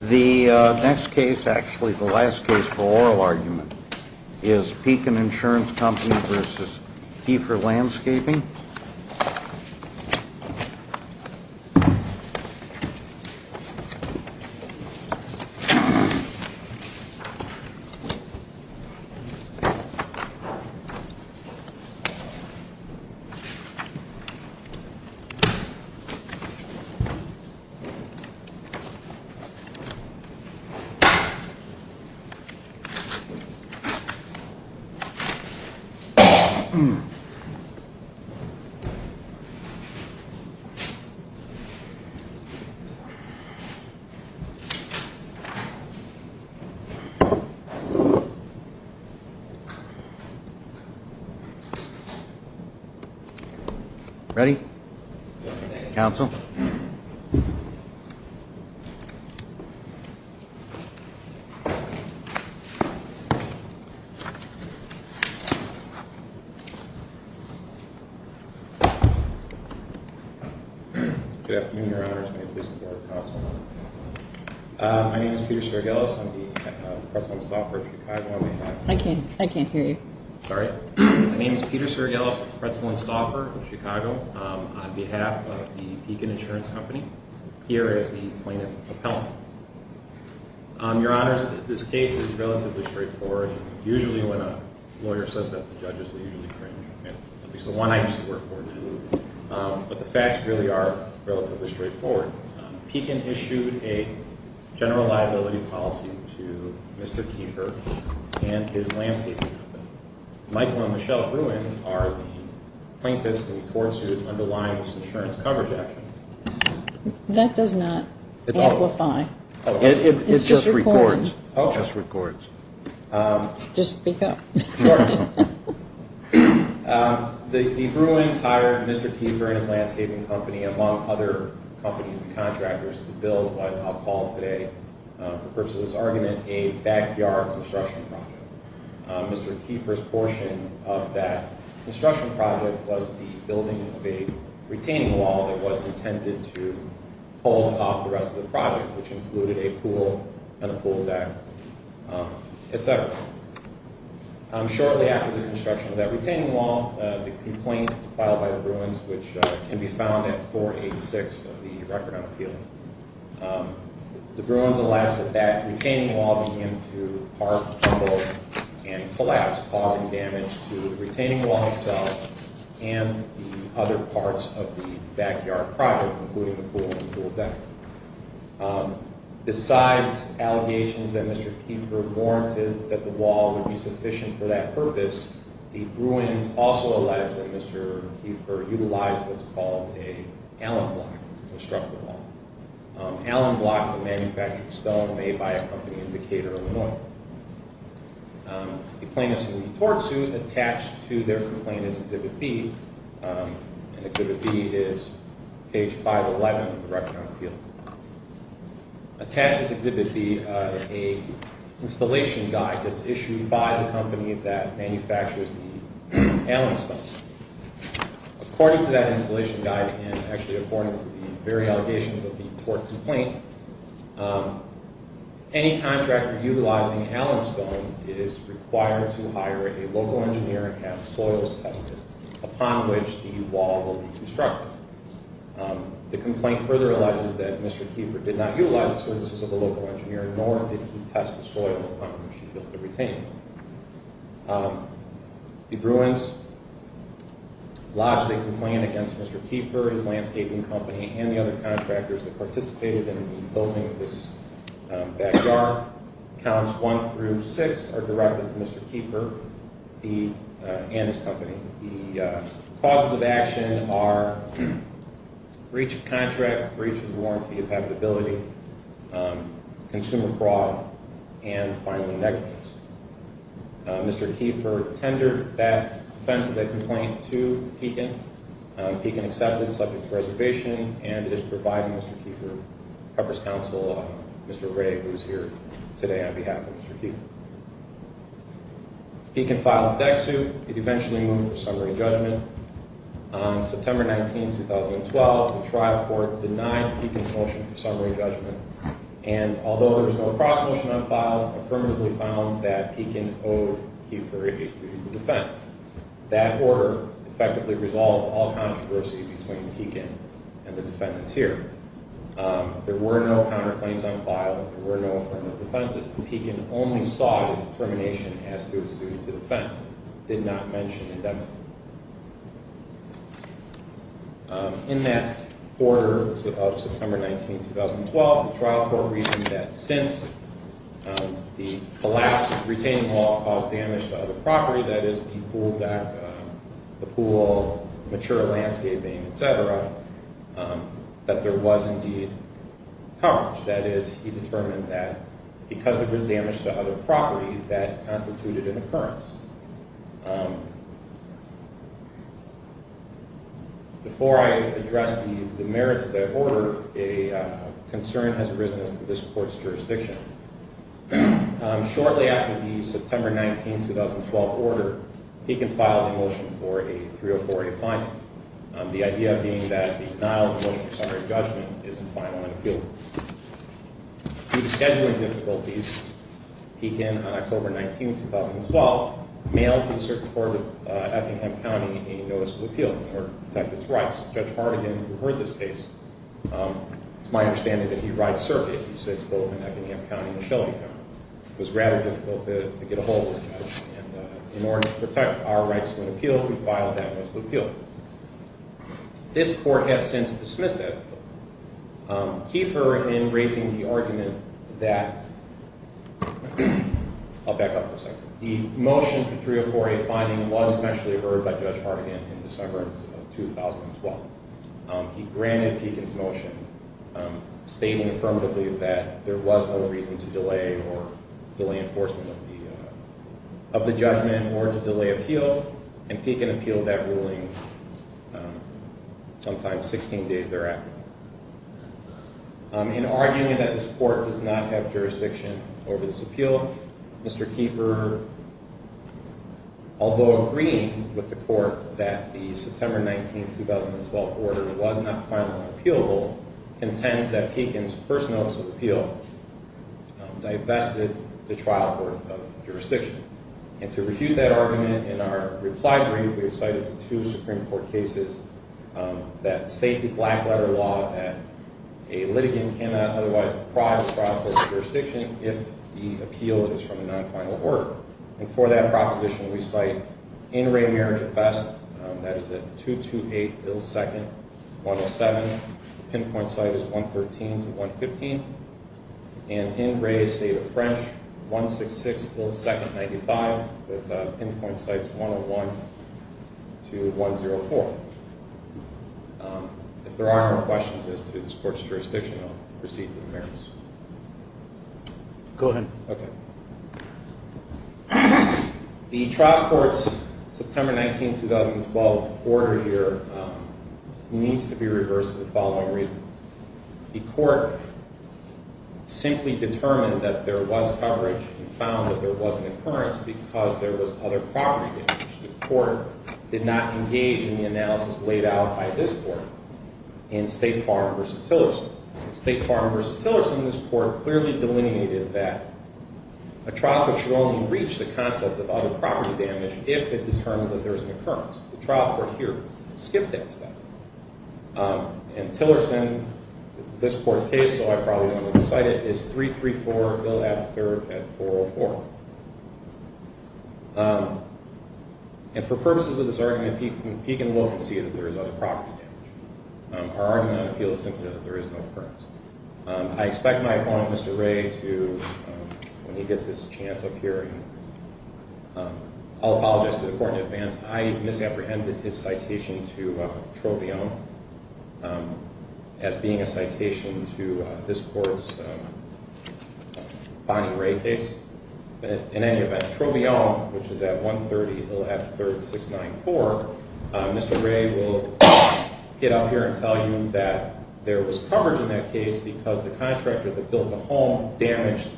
The next case, actually the last case for oral argument, is Pekin Insurance Company v. Kiefer Landscaping. Pekin Insurance Company v. Kiefer Landscaping, LLC Good afternoon, Your Honors. May it please the Court of Counsel. My name is Peter Sergelis. I'm the pretzel and stauffer of Chicago. I can't hear you. Sorry. My name is Peter Sergelis, pretzel and stauffer of Chicago, on behalf of the Pekin Insurance Company, here as the plaintiff appellant. Your Honors, this case is relatively straightforward. Usually when a lawyer says that to judges, they usually cringe. At least the one I used to work for did. But the facts really are relatively straightforward. Pekin issued a general liability policy to Mr. Kiefer and his landscaping company. Michael and Michelle Bruin are the plaintiffs that the court sued underlying this insurance coverage action. That does not amplify. It just records. Just speak up. The Bruins hired Mr. Kiefer and his landscaping company, among other companies and contractors, to build what I'll call today, for the purpose of this argument, a backyard construction project. Mr. Kiefer's portion of that construction project was the building of a retaining wall that was intended to hold off the rest of the project, which included a pool and a pool deck, etc. Shortly after the construction of that retaining wall, the complaint filed by the Bruins, which can be found at 486 of the Record on Appeal, the Bruins allege that that retaining wall began to part, tumble, and collapse, causing damage to the retaining wall itself and the other parts of the backyard project, including the pool and pool deck. Besides allegations that Mr. Kiefer warranted that the wall would be sufficient for that purpose, the Bruins also allege that Mr. Kiefer utilized what's called an Allen block to construct the wall. Allen block is a manufactured stone made by a company in Decatur, Illinois. The plaintiffs in the tort suit attached to their complaint is Exhibit B, and Exhibit B is page 511 of the Record on Appeal. Attached to Exhibit B is an installation guide that's issued by the company that manufactures the Allen stone. According to that installation guide, and actually according to the very allegations of the tort complaint, any contractor utilizing Allen stone is required to hire a local engineer and have soils tested upon which the wall will be constructed. The complaint further alleges that Mr. Kiefer did not utilize the services of a local engineer, nor did he test the soil upon which he built the retaining wall. The Bruins lodged a complaint against Mr. Kiefer, his landscaping company, and the other contractors that participated in the building of this backyard. Counts 1 through 6 are directed to Mr. Kiefer and his company. The causes of action are breach of contract, breach of the warranty of habitability, consumer fraud, and filing negligence. Mr. Kiefer tendered that defense of that complaint to Pekin. Pekin accepted, subject to reservation, and is providing Mr. Kiefer purpose counsel, Mr. Ray, who's here today on behalf of Mr. Kiefer. Pekin filed a dex suit. He eventually moved for summary judgment. On September 19, 2012, the trial court denied Pekin's motion for summary judgment, and although there was no cross motion on file, affirmatively found that Pekin owed Kiefer a duty to defend. That order effectively resolved all controversy between Pekin and the defendants here. There were no counterclaims on file, there were no affirmative defenses, and Pekin only sought a determination as to a suit to defend. Did not mention indemnity. In that order of September 19, 2012, the trial court reasoned that since the collapse of the retaining wall caused damage to other property, that is the pool deck, the pool, mature landscaping, etc., that there was indeed coverage. That is, he determined that because there was damage to other property, that constituted an occurrence. Before I address the merits of that order, a concern has arisen as to this court's jurisdiction. Shortly after the September 19, 2012 order, Pekin filed a motion for a 304A finding. The idea being that the denial of the motion for summary judgment is infinal and appealable. Due to scheduling difficulties, Pekin, on October 19, 2012, mailed to the Circuit Court of Effingham County a notice of appeal in order to protect its rights. Judge Hardigan, who heard this case, it's my understanding that he writes circuits. He sits both in Effingham County and Shelby County. It was rather difficult to get a hold of the judge, and in order to protect our rights to an appeal, he filed that notice of appeal. This court has since dismissed that appeal. Kiefer, in raising the argument that – I'll back up for a second. The motion for 304A finding was eventually heard by Judge Hardigan in December of 2012. He granted Pekin's motion, stating affirmatively that there was no reason to delay or delay enforcement of the judgment or to delay appeal, and Pekin appealed that ruling sometime 16 days thereafter. In arguing that this court does not have jurisdiction over this appeal, Mr. Kiefer, although agreeing with the court that the September 19, 2012 order was not final and appealable, contends that Pekin's first notice of appeal divested the trial court of jurisdiction. And to refute that argument, in our reply brief, we have cited two Supreme Court cases that state the black-letter law that a litigant cannot otherwise deprive the trial court of jurisdiction if the appeal is from a non-final order. And for that proposition, we cite in re marriage at best, that is at 228 Hill 2nd, 107. The pinpoint site is 113 to 115. And in re state of French, 166 Hill 2nd, 95, with pinpoint sites 101 to 104. If there are no questions as to this court's jurisdiction, I'll proceed to the merits. Go ahead. Okay. The trial court's September 19, 2012 order here needs to be reversed for the following reason. The court simply determined that there was coverage and found that there was an occurrence because there was other property damage. The court did not engage in the analysis laid out by this court in State Farm v. Tillerson. State Farm v. Tillerson, this court clearly delineated that a trial court should only reach the concept of other property damage if it determines that there is an occurrence. The trial court here skipped that step. And Tillerson, this court's case, so I probably don't want to cite it, is 334 Bill F. 3rd at 404. And for purposes of this argument, he can look and see that there is other property damage. Our argument on appeal is simply that there is no occurrence. I expect my opponent, Mr. Ray, to, when he gets his chance up here, and I'll apologize to the court in advance, I misapprehended his citation to Troveillon as being a citation to this court's Bonnie Ray case. In any event, Troveillon, which is at 130 Bill F. 3rd, 694, Mr. Ray will get up here and tell you that there was coverage in that case because the contractor that built the home damaged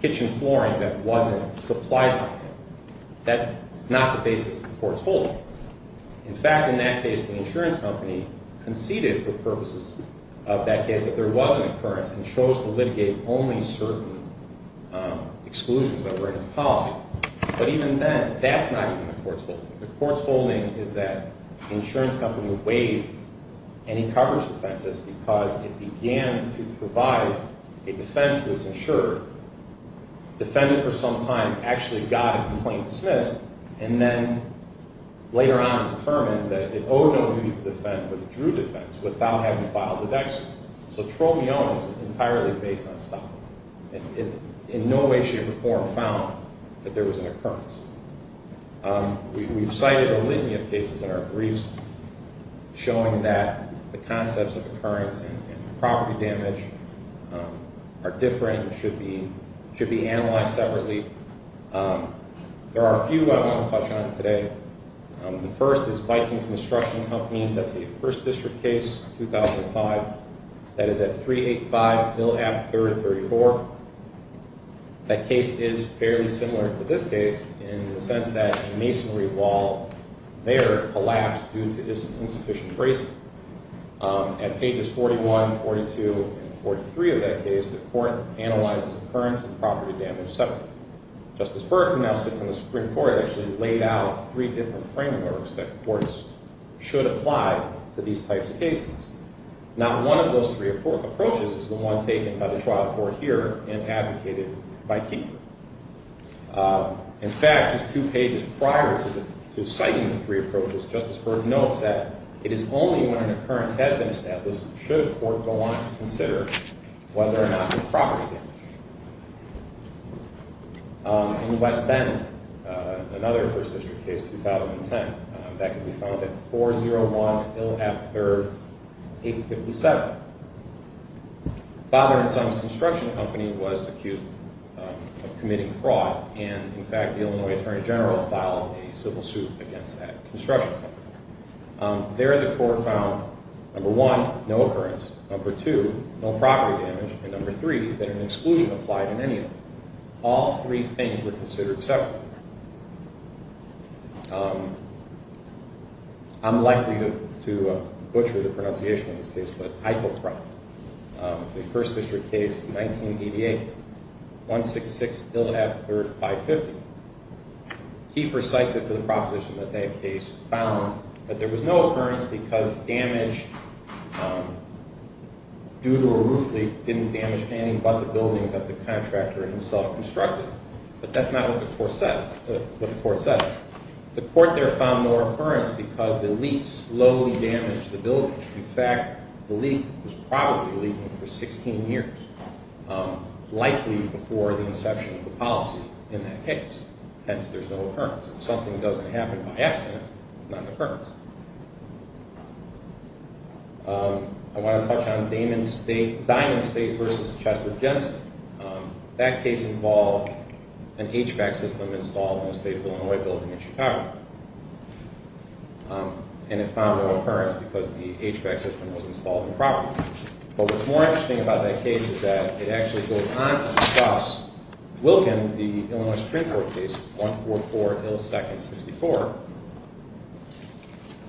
kitchen flooring that wasn't supplied by him. That is not the basis of the court's holding. In fact, in that case, the insurance company conceded for purposes of that case that there was an occurrence and chose to litigate only certain exclusions that were in the policy. But even then, that's not even the court's holding. The court's holding is that the insurance company waived any coverage defenses because it began to provide a defense that was insured, defended for some time, actually got a complaint dismissed, and then later on determined that it owed no duty to defend, withdrew defense without having filed the dexter. So Troveillon is entirely based on stock. In no way, shape, or form found that there was an occurrence. We've cited a litany of cases in our briefs showing that the concepts of occurrence and property damage are different and should be analyzed separately. There are a few I want to touch on today. The first is Viking Construction Company. That's a 1st District case, 2005. That is at 385 Mill Ave., 3rd and 34th. That case is fairly similar to this case in the sense that a masonry wall there collapsed due to insufficient bracing. At pages 41, 42, and 43 of that case, the court analyzes occurrence and property damage separately. Justice Burke, who now sits on the Supreme Court, actually laid out three different frameworks that courts should apply to these types of cases. Not one of those three approaches is the one taken by the trial court here and advocated by Kiefer. In fact, just two pages prior to citing the three approaches, Justice Burke notes that it is only when an occurrence has been established should a court go on to consider whether or not there's property damage. In West Bend, another 1st District case, 2010. That can be found at 401 Mill Ave., 3rd, 857. The father and son's construction company was accused of committing fraud. And, in fact, the Illinois Attorney General filed a civil suit against that construction company. There, the court found, number one, no occurrence. Number two, no property damage. And number three, that an exclusion applied in any of them. All three things were considered separately. I'm likely to butcher the pronunciation of this case, but Eichelkraut. It's a 1st District case, 1988, 166 Illinois Ave., 3rd, 550. Kiefer cites it for the proposition that that case found that there was no occurrence because damage due to a roof leak didn't damage any but the building that the contractor himself constructed. But that's not what the court says. The court there found no occurrence because the leak slowly damaged the building. In fact, the leak was probably leaking for 16 years, likely before the inception of the policy in that case. Hence, there's no occurrence. If something doesn't happen by accident, it's not an occurrence. I want to touch on Diamond State v. Chester Jensen. That case involved an HVAC system installed in a state of Illinois building in Chicago. And it found no occurrence because the HVAC system was installed improperly. But what's more interesting about that case is that it actually goes on to discuss Wilkin, the Illinois Supreme Court case, 144, Ill. 2nd, 64.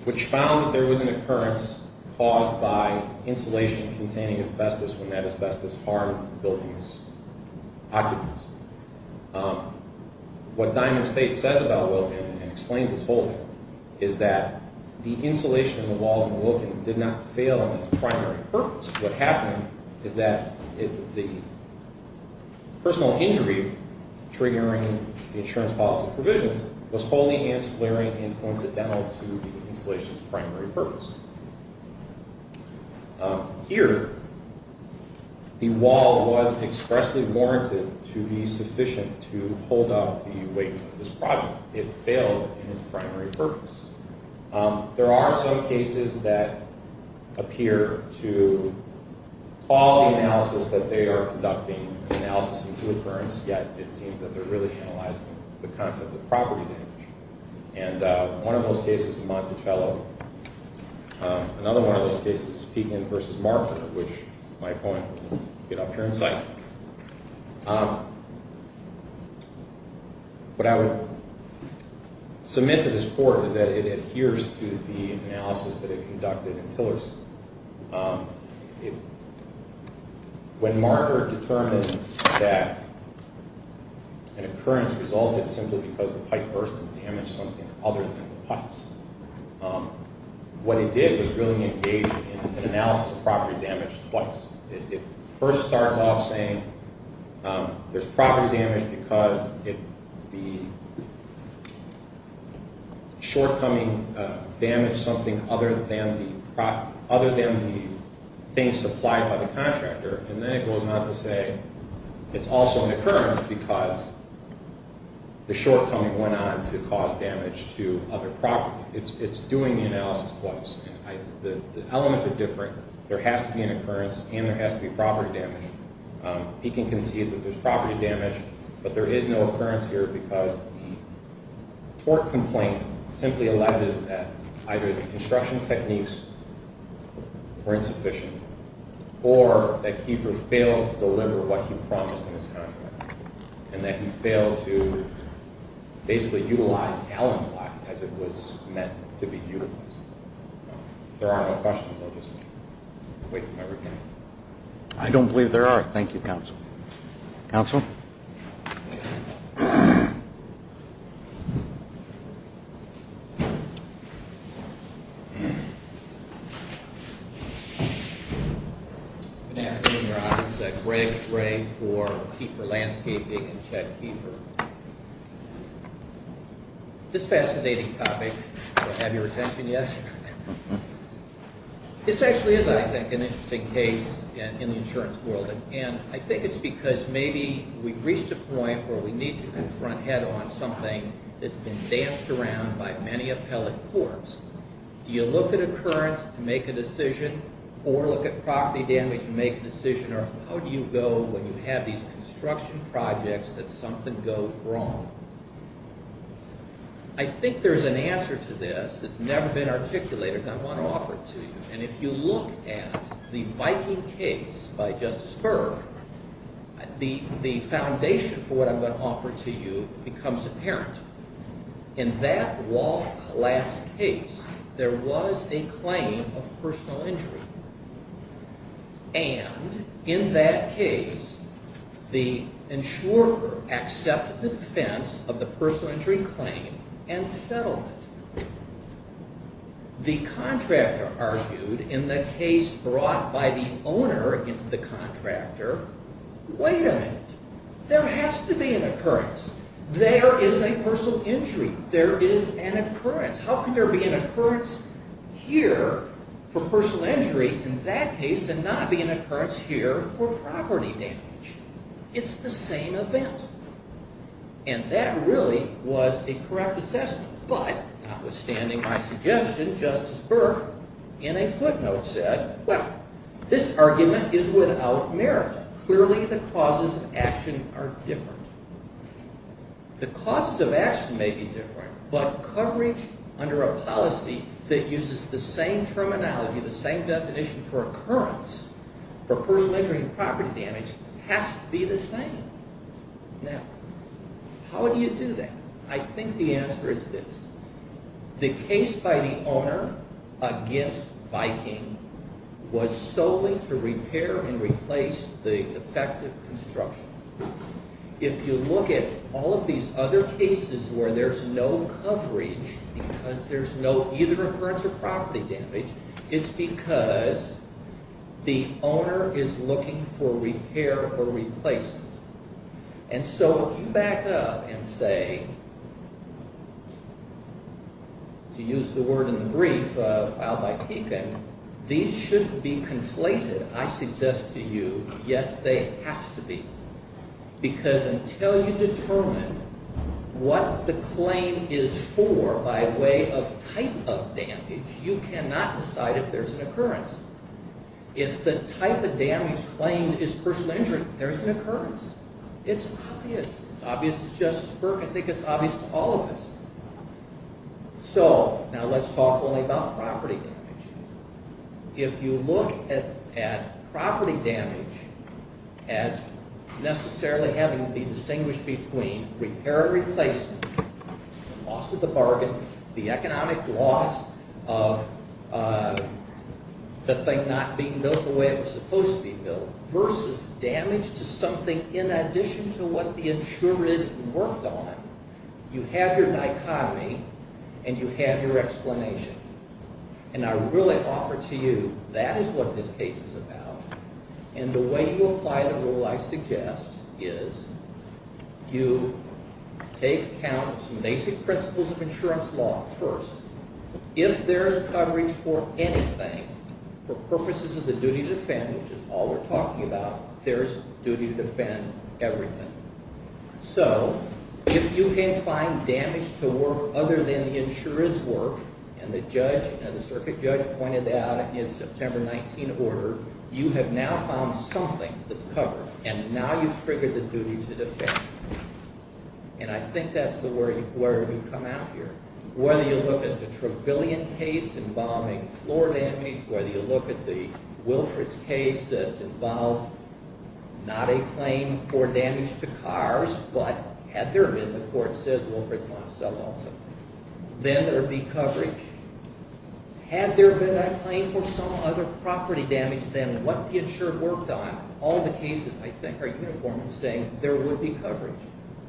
Which found that there was an occurrence caused by insulation containing asbestos when that asbestos harmed the building's occupants. What Diamond State says about Wilkin and explains its holding is that the insulation in the walls of Wilkin did not fail on its primary purpose. What happened is that the personal injury triggering the insurance policy provisions was holding and splintering and coincidental to the insulation's primary purpose. Here, the wall was expressly warranted to be sufficient to hold up the weight of this project. It failed in its primary purpose. There are some cases that appear to call the analysis that they are conducting an analysis into occurrence. Yet, it seems that they're really analyzing the concept of property damage. And one of those cases is Monticello. Another one of those cases is Piedmont v. Martha, which my point will get up here in sight. What I would submit to this court is that it adheres to the analysis that it conducted in Tillerson. When Martha determined that an occurrence resulted simply because the pipe burst and damaged something other than the pipes, what it did was really engage in an analysis of property damage twice. It first starts off saying there's property damage because the shortcoming damaged something other than the things supplied by the contractor. And then it goes on to say it's also an occurrence because the shortcoming went on to cause damage to other property. It's doing the analysis twice. The elements are different. There has to be an occurrence and there has to be property damage. Pekin concedes that there's property damage, but there is no occurrence here because the tort complaint simply alleges that either the construction techniques were insufficient or that Kiefer failed to deliver what he promised in his contract and that he failed to basically utilize Allen Block as it was meant to be utilized. If there are no questions, I'll just wait for my rebuttal. I don't believe there are. Thank you, counsel. Counsel? Good afternoon, Your Honor. This is Greg Gray for Kiefer Landscaping and Chet Kiefer. This fascinating topic, do I have your attention yet? This actually is, I think, an interesting case in the insurance world. And I think it's because maybe we've reached a point where we need to confront head-on something that's been danced around by many appellate courts. Do you look at occurrence to make a decision or look at property damage to make a decision or how do you go when you have these construction projects that something goes wrong? I think there's an answer to this that's never been articulated that I want to offer to you. And if you look at the Viking case by Justice Berg, the foundation for what I'm going to offer to you becomes apparent. In that wall collapse case, there was a claim of personal injury. And in that case, the insurer accepted the defense of the personal injury claim and settled it. The contractor argued in the case brought by the owner against the contractor, wait a minute, there has to be an occurrence. There is a personal injury. There is an occurrence. How could there be an occurrence here for personal injury in that case and not be an occurrence here for property damage? It's the same event. And that really was a correct assessment. But notwithstanding my suggestion, Justice Berg in a footnote said, well, this argument is without merit. Clearly the causes of action are different. The causes of action may be different, but coverage under a policy that uses the same terminology, the same definition for occurrence for personal injury and property damage has to be the same. Now, how do you do that? I think the answer is this. The case by the owner against Viking was solely to repair and replace the defective construction. If you look at all of these other cases where there's no coverage because there's no either occurrence or property damage, it's because the owner is looking for repair or replacement. And so if you back up and say, to use the word in the brief filed by Pekin, these should be conflated. I suggest to you, yes, they have to be. Because until you determine what the claim is for by way of type of damage, you cannot decide if there's an occurrence. If the type of damage claimed is personal injury, there's an occurrence. It's obvious. It's obvious to Justice Berg. I think it's obvious to all of us. So now let's talk only about property damage. If you look at property damage as necessarily having to be distinguished between repair or replacement, loss of the bargain, the economic loss of the thing not being built the way it was supposed to be built versus damage to something in addition to what the insurer worked on, you have your dichotomy and you have your explanation. And I really offer to you that is what this case is about. And the way you apply the rule, I suggest, is you take account of some basic principles of insurance law first. If there's coverage for anything for purposes of the duty to defend, which is all we're talking about, there's duty to defend everything. So if you can't find damage to work other than the insurer's work and the circuit judge pointed out in September 19 order, you have now found something that's covered, and now you've triggered the duty to defend. And I think that's where we come out here. Whether you look at the Trevelyan case involving floor damage, whether you look at the Wilfrid's case that involved not a claim for damage to cars, but had there been, the court says Wilfrid's might have settled on something, then there would be coverage. Had there been a claim for some other property damage than what the insurer worked on, all the cases, I think, are uniform in saying there would be coverage.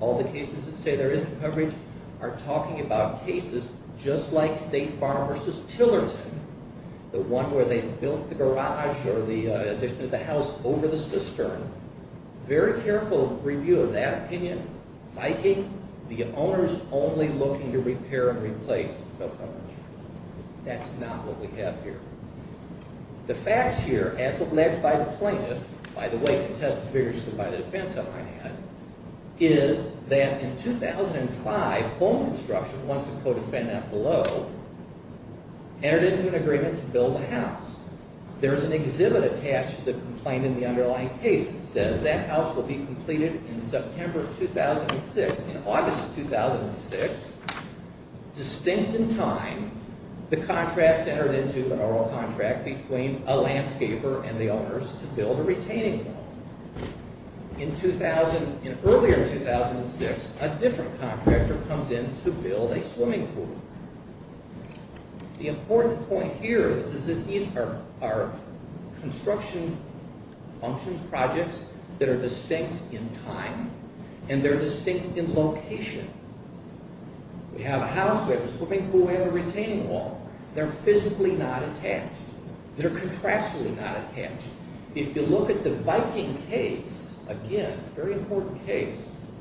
All the cases that say there isn't coverage are talking about cases just like State Farm v. Tillerton, the one where they built the garage or the addition of the house over the cistern. Very careful review of that opinion. Viking, the owner's only looking to repair and replace, no coverage. That's not what we have here. The facts here, as alleged by the plaintiff, by the way contested vigorously by the defense on my hand, is that in 2005, Home Construction, once a co-defendant below, entered into an agreement to build a house. There's an exhibit attached to the complaint in the underlying case that says that house will be completed in September of 2006, in August of 2006. Distinct in time, the contracts entered into the oral contract between a landscaper and the owners to build a retaining wall. In earlier 2006, a different contractor comes in to build a swimming pool. The important point here is that these are construction functions, projects, that are distinct in time and they're distinct in location. We have a house, we have a swimming pool, we have a retaining wall. They're physically not attached. They're contractually not attached. If you look at the Viking case, again, a very important case,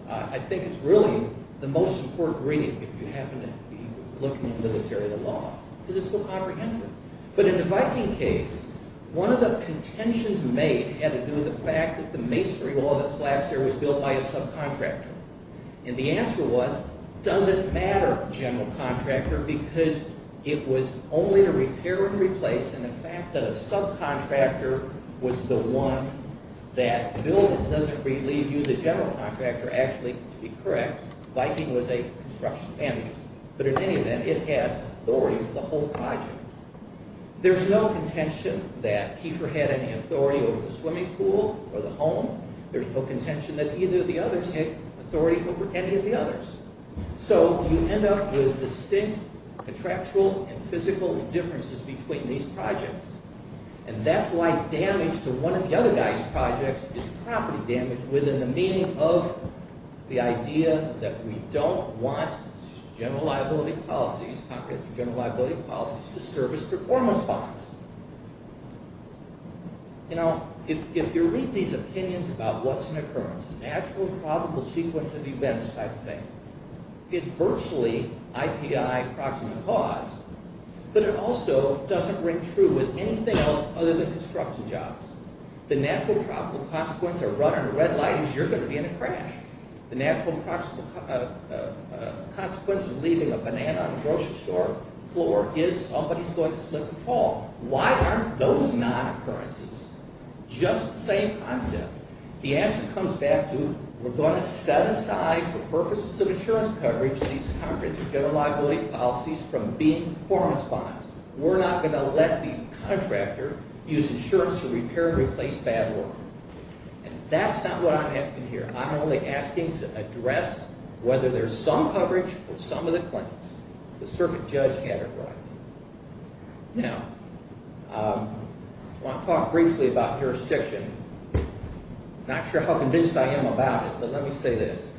I think it's really the most important reading if you happen to be looking at the military law, because it's so comprehensive. But in the Viking case, one of the contentions made had to do with the fact that the masonry wall that collapsed there was built by a subcontractor. And the answer was, does it matter, general contractor, because it was only to repair and replace, and the fact that a subcontractor was the one that built it, doesn't relieve you the general contractor actually, to be correct, Viking was a construction manager. But in any event, it had authority over the whole project. There's no contention that Kiefer had any authority over the swimming pool or the home. There's no contention that either of the others had authority over any of the others. So you end up with distinct contractual and physical differences between these projects. And that's why damage to one of the other guys' projects is property damage, within the meaning of the idea that we don't want general liability policies, comprehensive general liability policies, to serve as performance bonds. If you read these opinions about what's an occurrence, an actual probable sequence of events type of thing, it's virtually IPI approximate cause, but it also doesn't ring true with anything else other than construction jobs. The natural probable consequence of running a red light is you're going to be in a crash. The natural consequence of leaving a banana on the grocery store floor is somebody's going to slip and fall. Why aren't those non-occurrences? Just the same concept. The answer comes back to, we're going to set aside for purposes of insurance coverage, comprehensive general liability policies from being performance bonds. We're not going to let the contractor use insurance to repair and replace bad work. And that's not what I'm asking here. I'm only asking to address whether there's some coverage for some of the claims. The circuit judge had it right. Now, I want to talk briefly about jurisdiction. Not sure how convinced I am about it, but let me say this.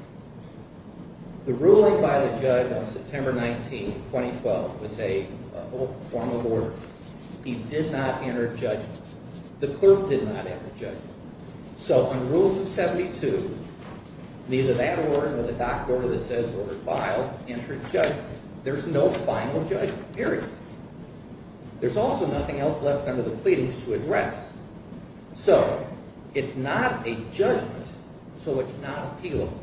The ruling by the judge on September 19, 2012 was a formal order. He did not enter judgment. The clerk did not enter judgment. So on Rules of 72, neither that order nor the doc order that says it was filed entered judgment. There's no final judgment, period. There's also nothing else left under the pleadings to address. So it's not a judgment, so it's not appealable.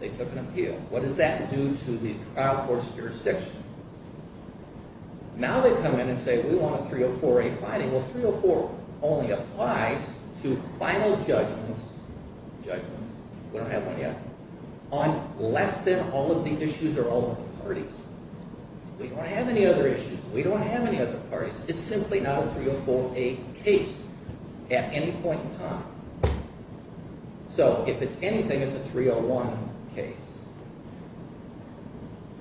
They took an appeal. What does that do to the trial court's jurisdiction? Now they come in and say, we want a 304A finding. Well, 304 only applies to final judgments. We don't have one yet. On less than all of the issues or all of the parties. We don't have any other issues. We don't have any other parties. It's simply not a 304A case at any point in time. So if it's anything, it's a 301 case.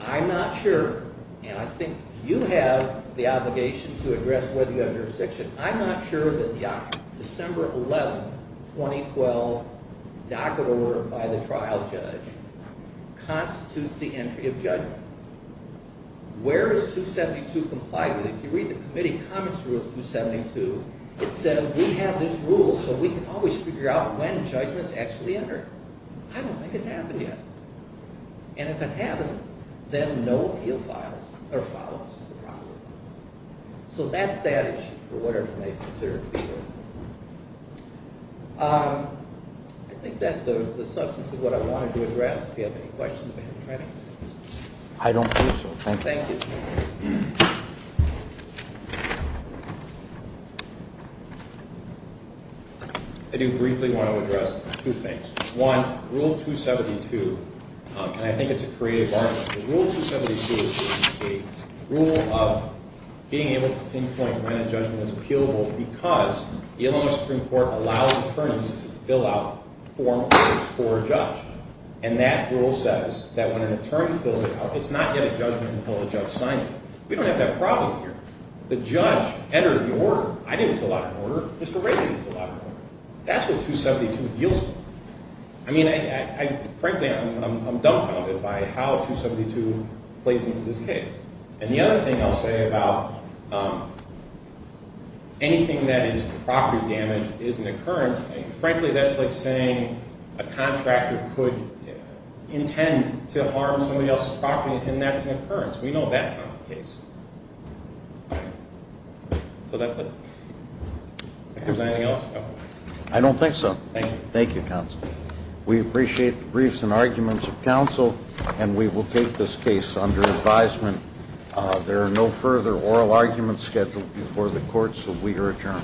I'm not sure, and I think you have the obligation to address whether you have jurisdiction. I'm not sure that the December 11, 2012 docket order by the trial judge constitutes the entry of judgment. Where is 272 complied with? If you read the committee comments rule 272, it says we have this rule so we can always figure out when judgments actually enter. I don't think it's happened yet. And if it hasn't, then no appeal files are filed. So that's that issue for whatever they consider to be the issue. I think that's the substance of what I wanted to address. If you have any questions, we can try to answer them. I don't think so. Thank you. I do briefly want to address two things. One, rule 272, and I think it's a creative argument. Rule 272 is a rule of being able to pinpoint when a judgment is appealable because the Illinois Supreme Court allows attorneys to fill out formal court for a judge. And that rule says that when an attorney fills it out, it's not yet a judgment until the judge signs it. We don't have that problem here. The judge entered the order. I didn't fill out an order. Mr. Ray didn't fill out an order. That's what 272 deals with. I mean, frankly, I'm dumbfounded by how 272 plays into this case. And the other thing I'll say about anything that is property damage is an occurrence. Frankly, that's like saying a contractor could intend to harm somebody else's property, and that's an occurrence. We know that's not the case. So that's it. If there's anything else, go ahead. I don't think so. Thank you. Thank you, counsel. We appreciate the briefs and arguments of counsel, and we will take this case under advisement. There are no further oral arguments scheduled before the court, so we are adjourned.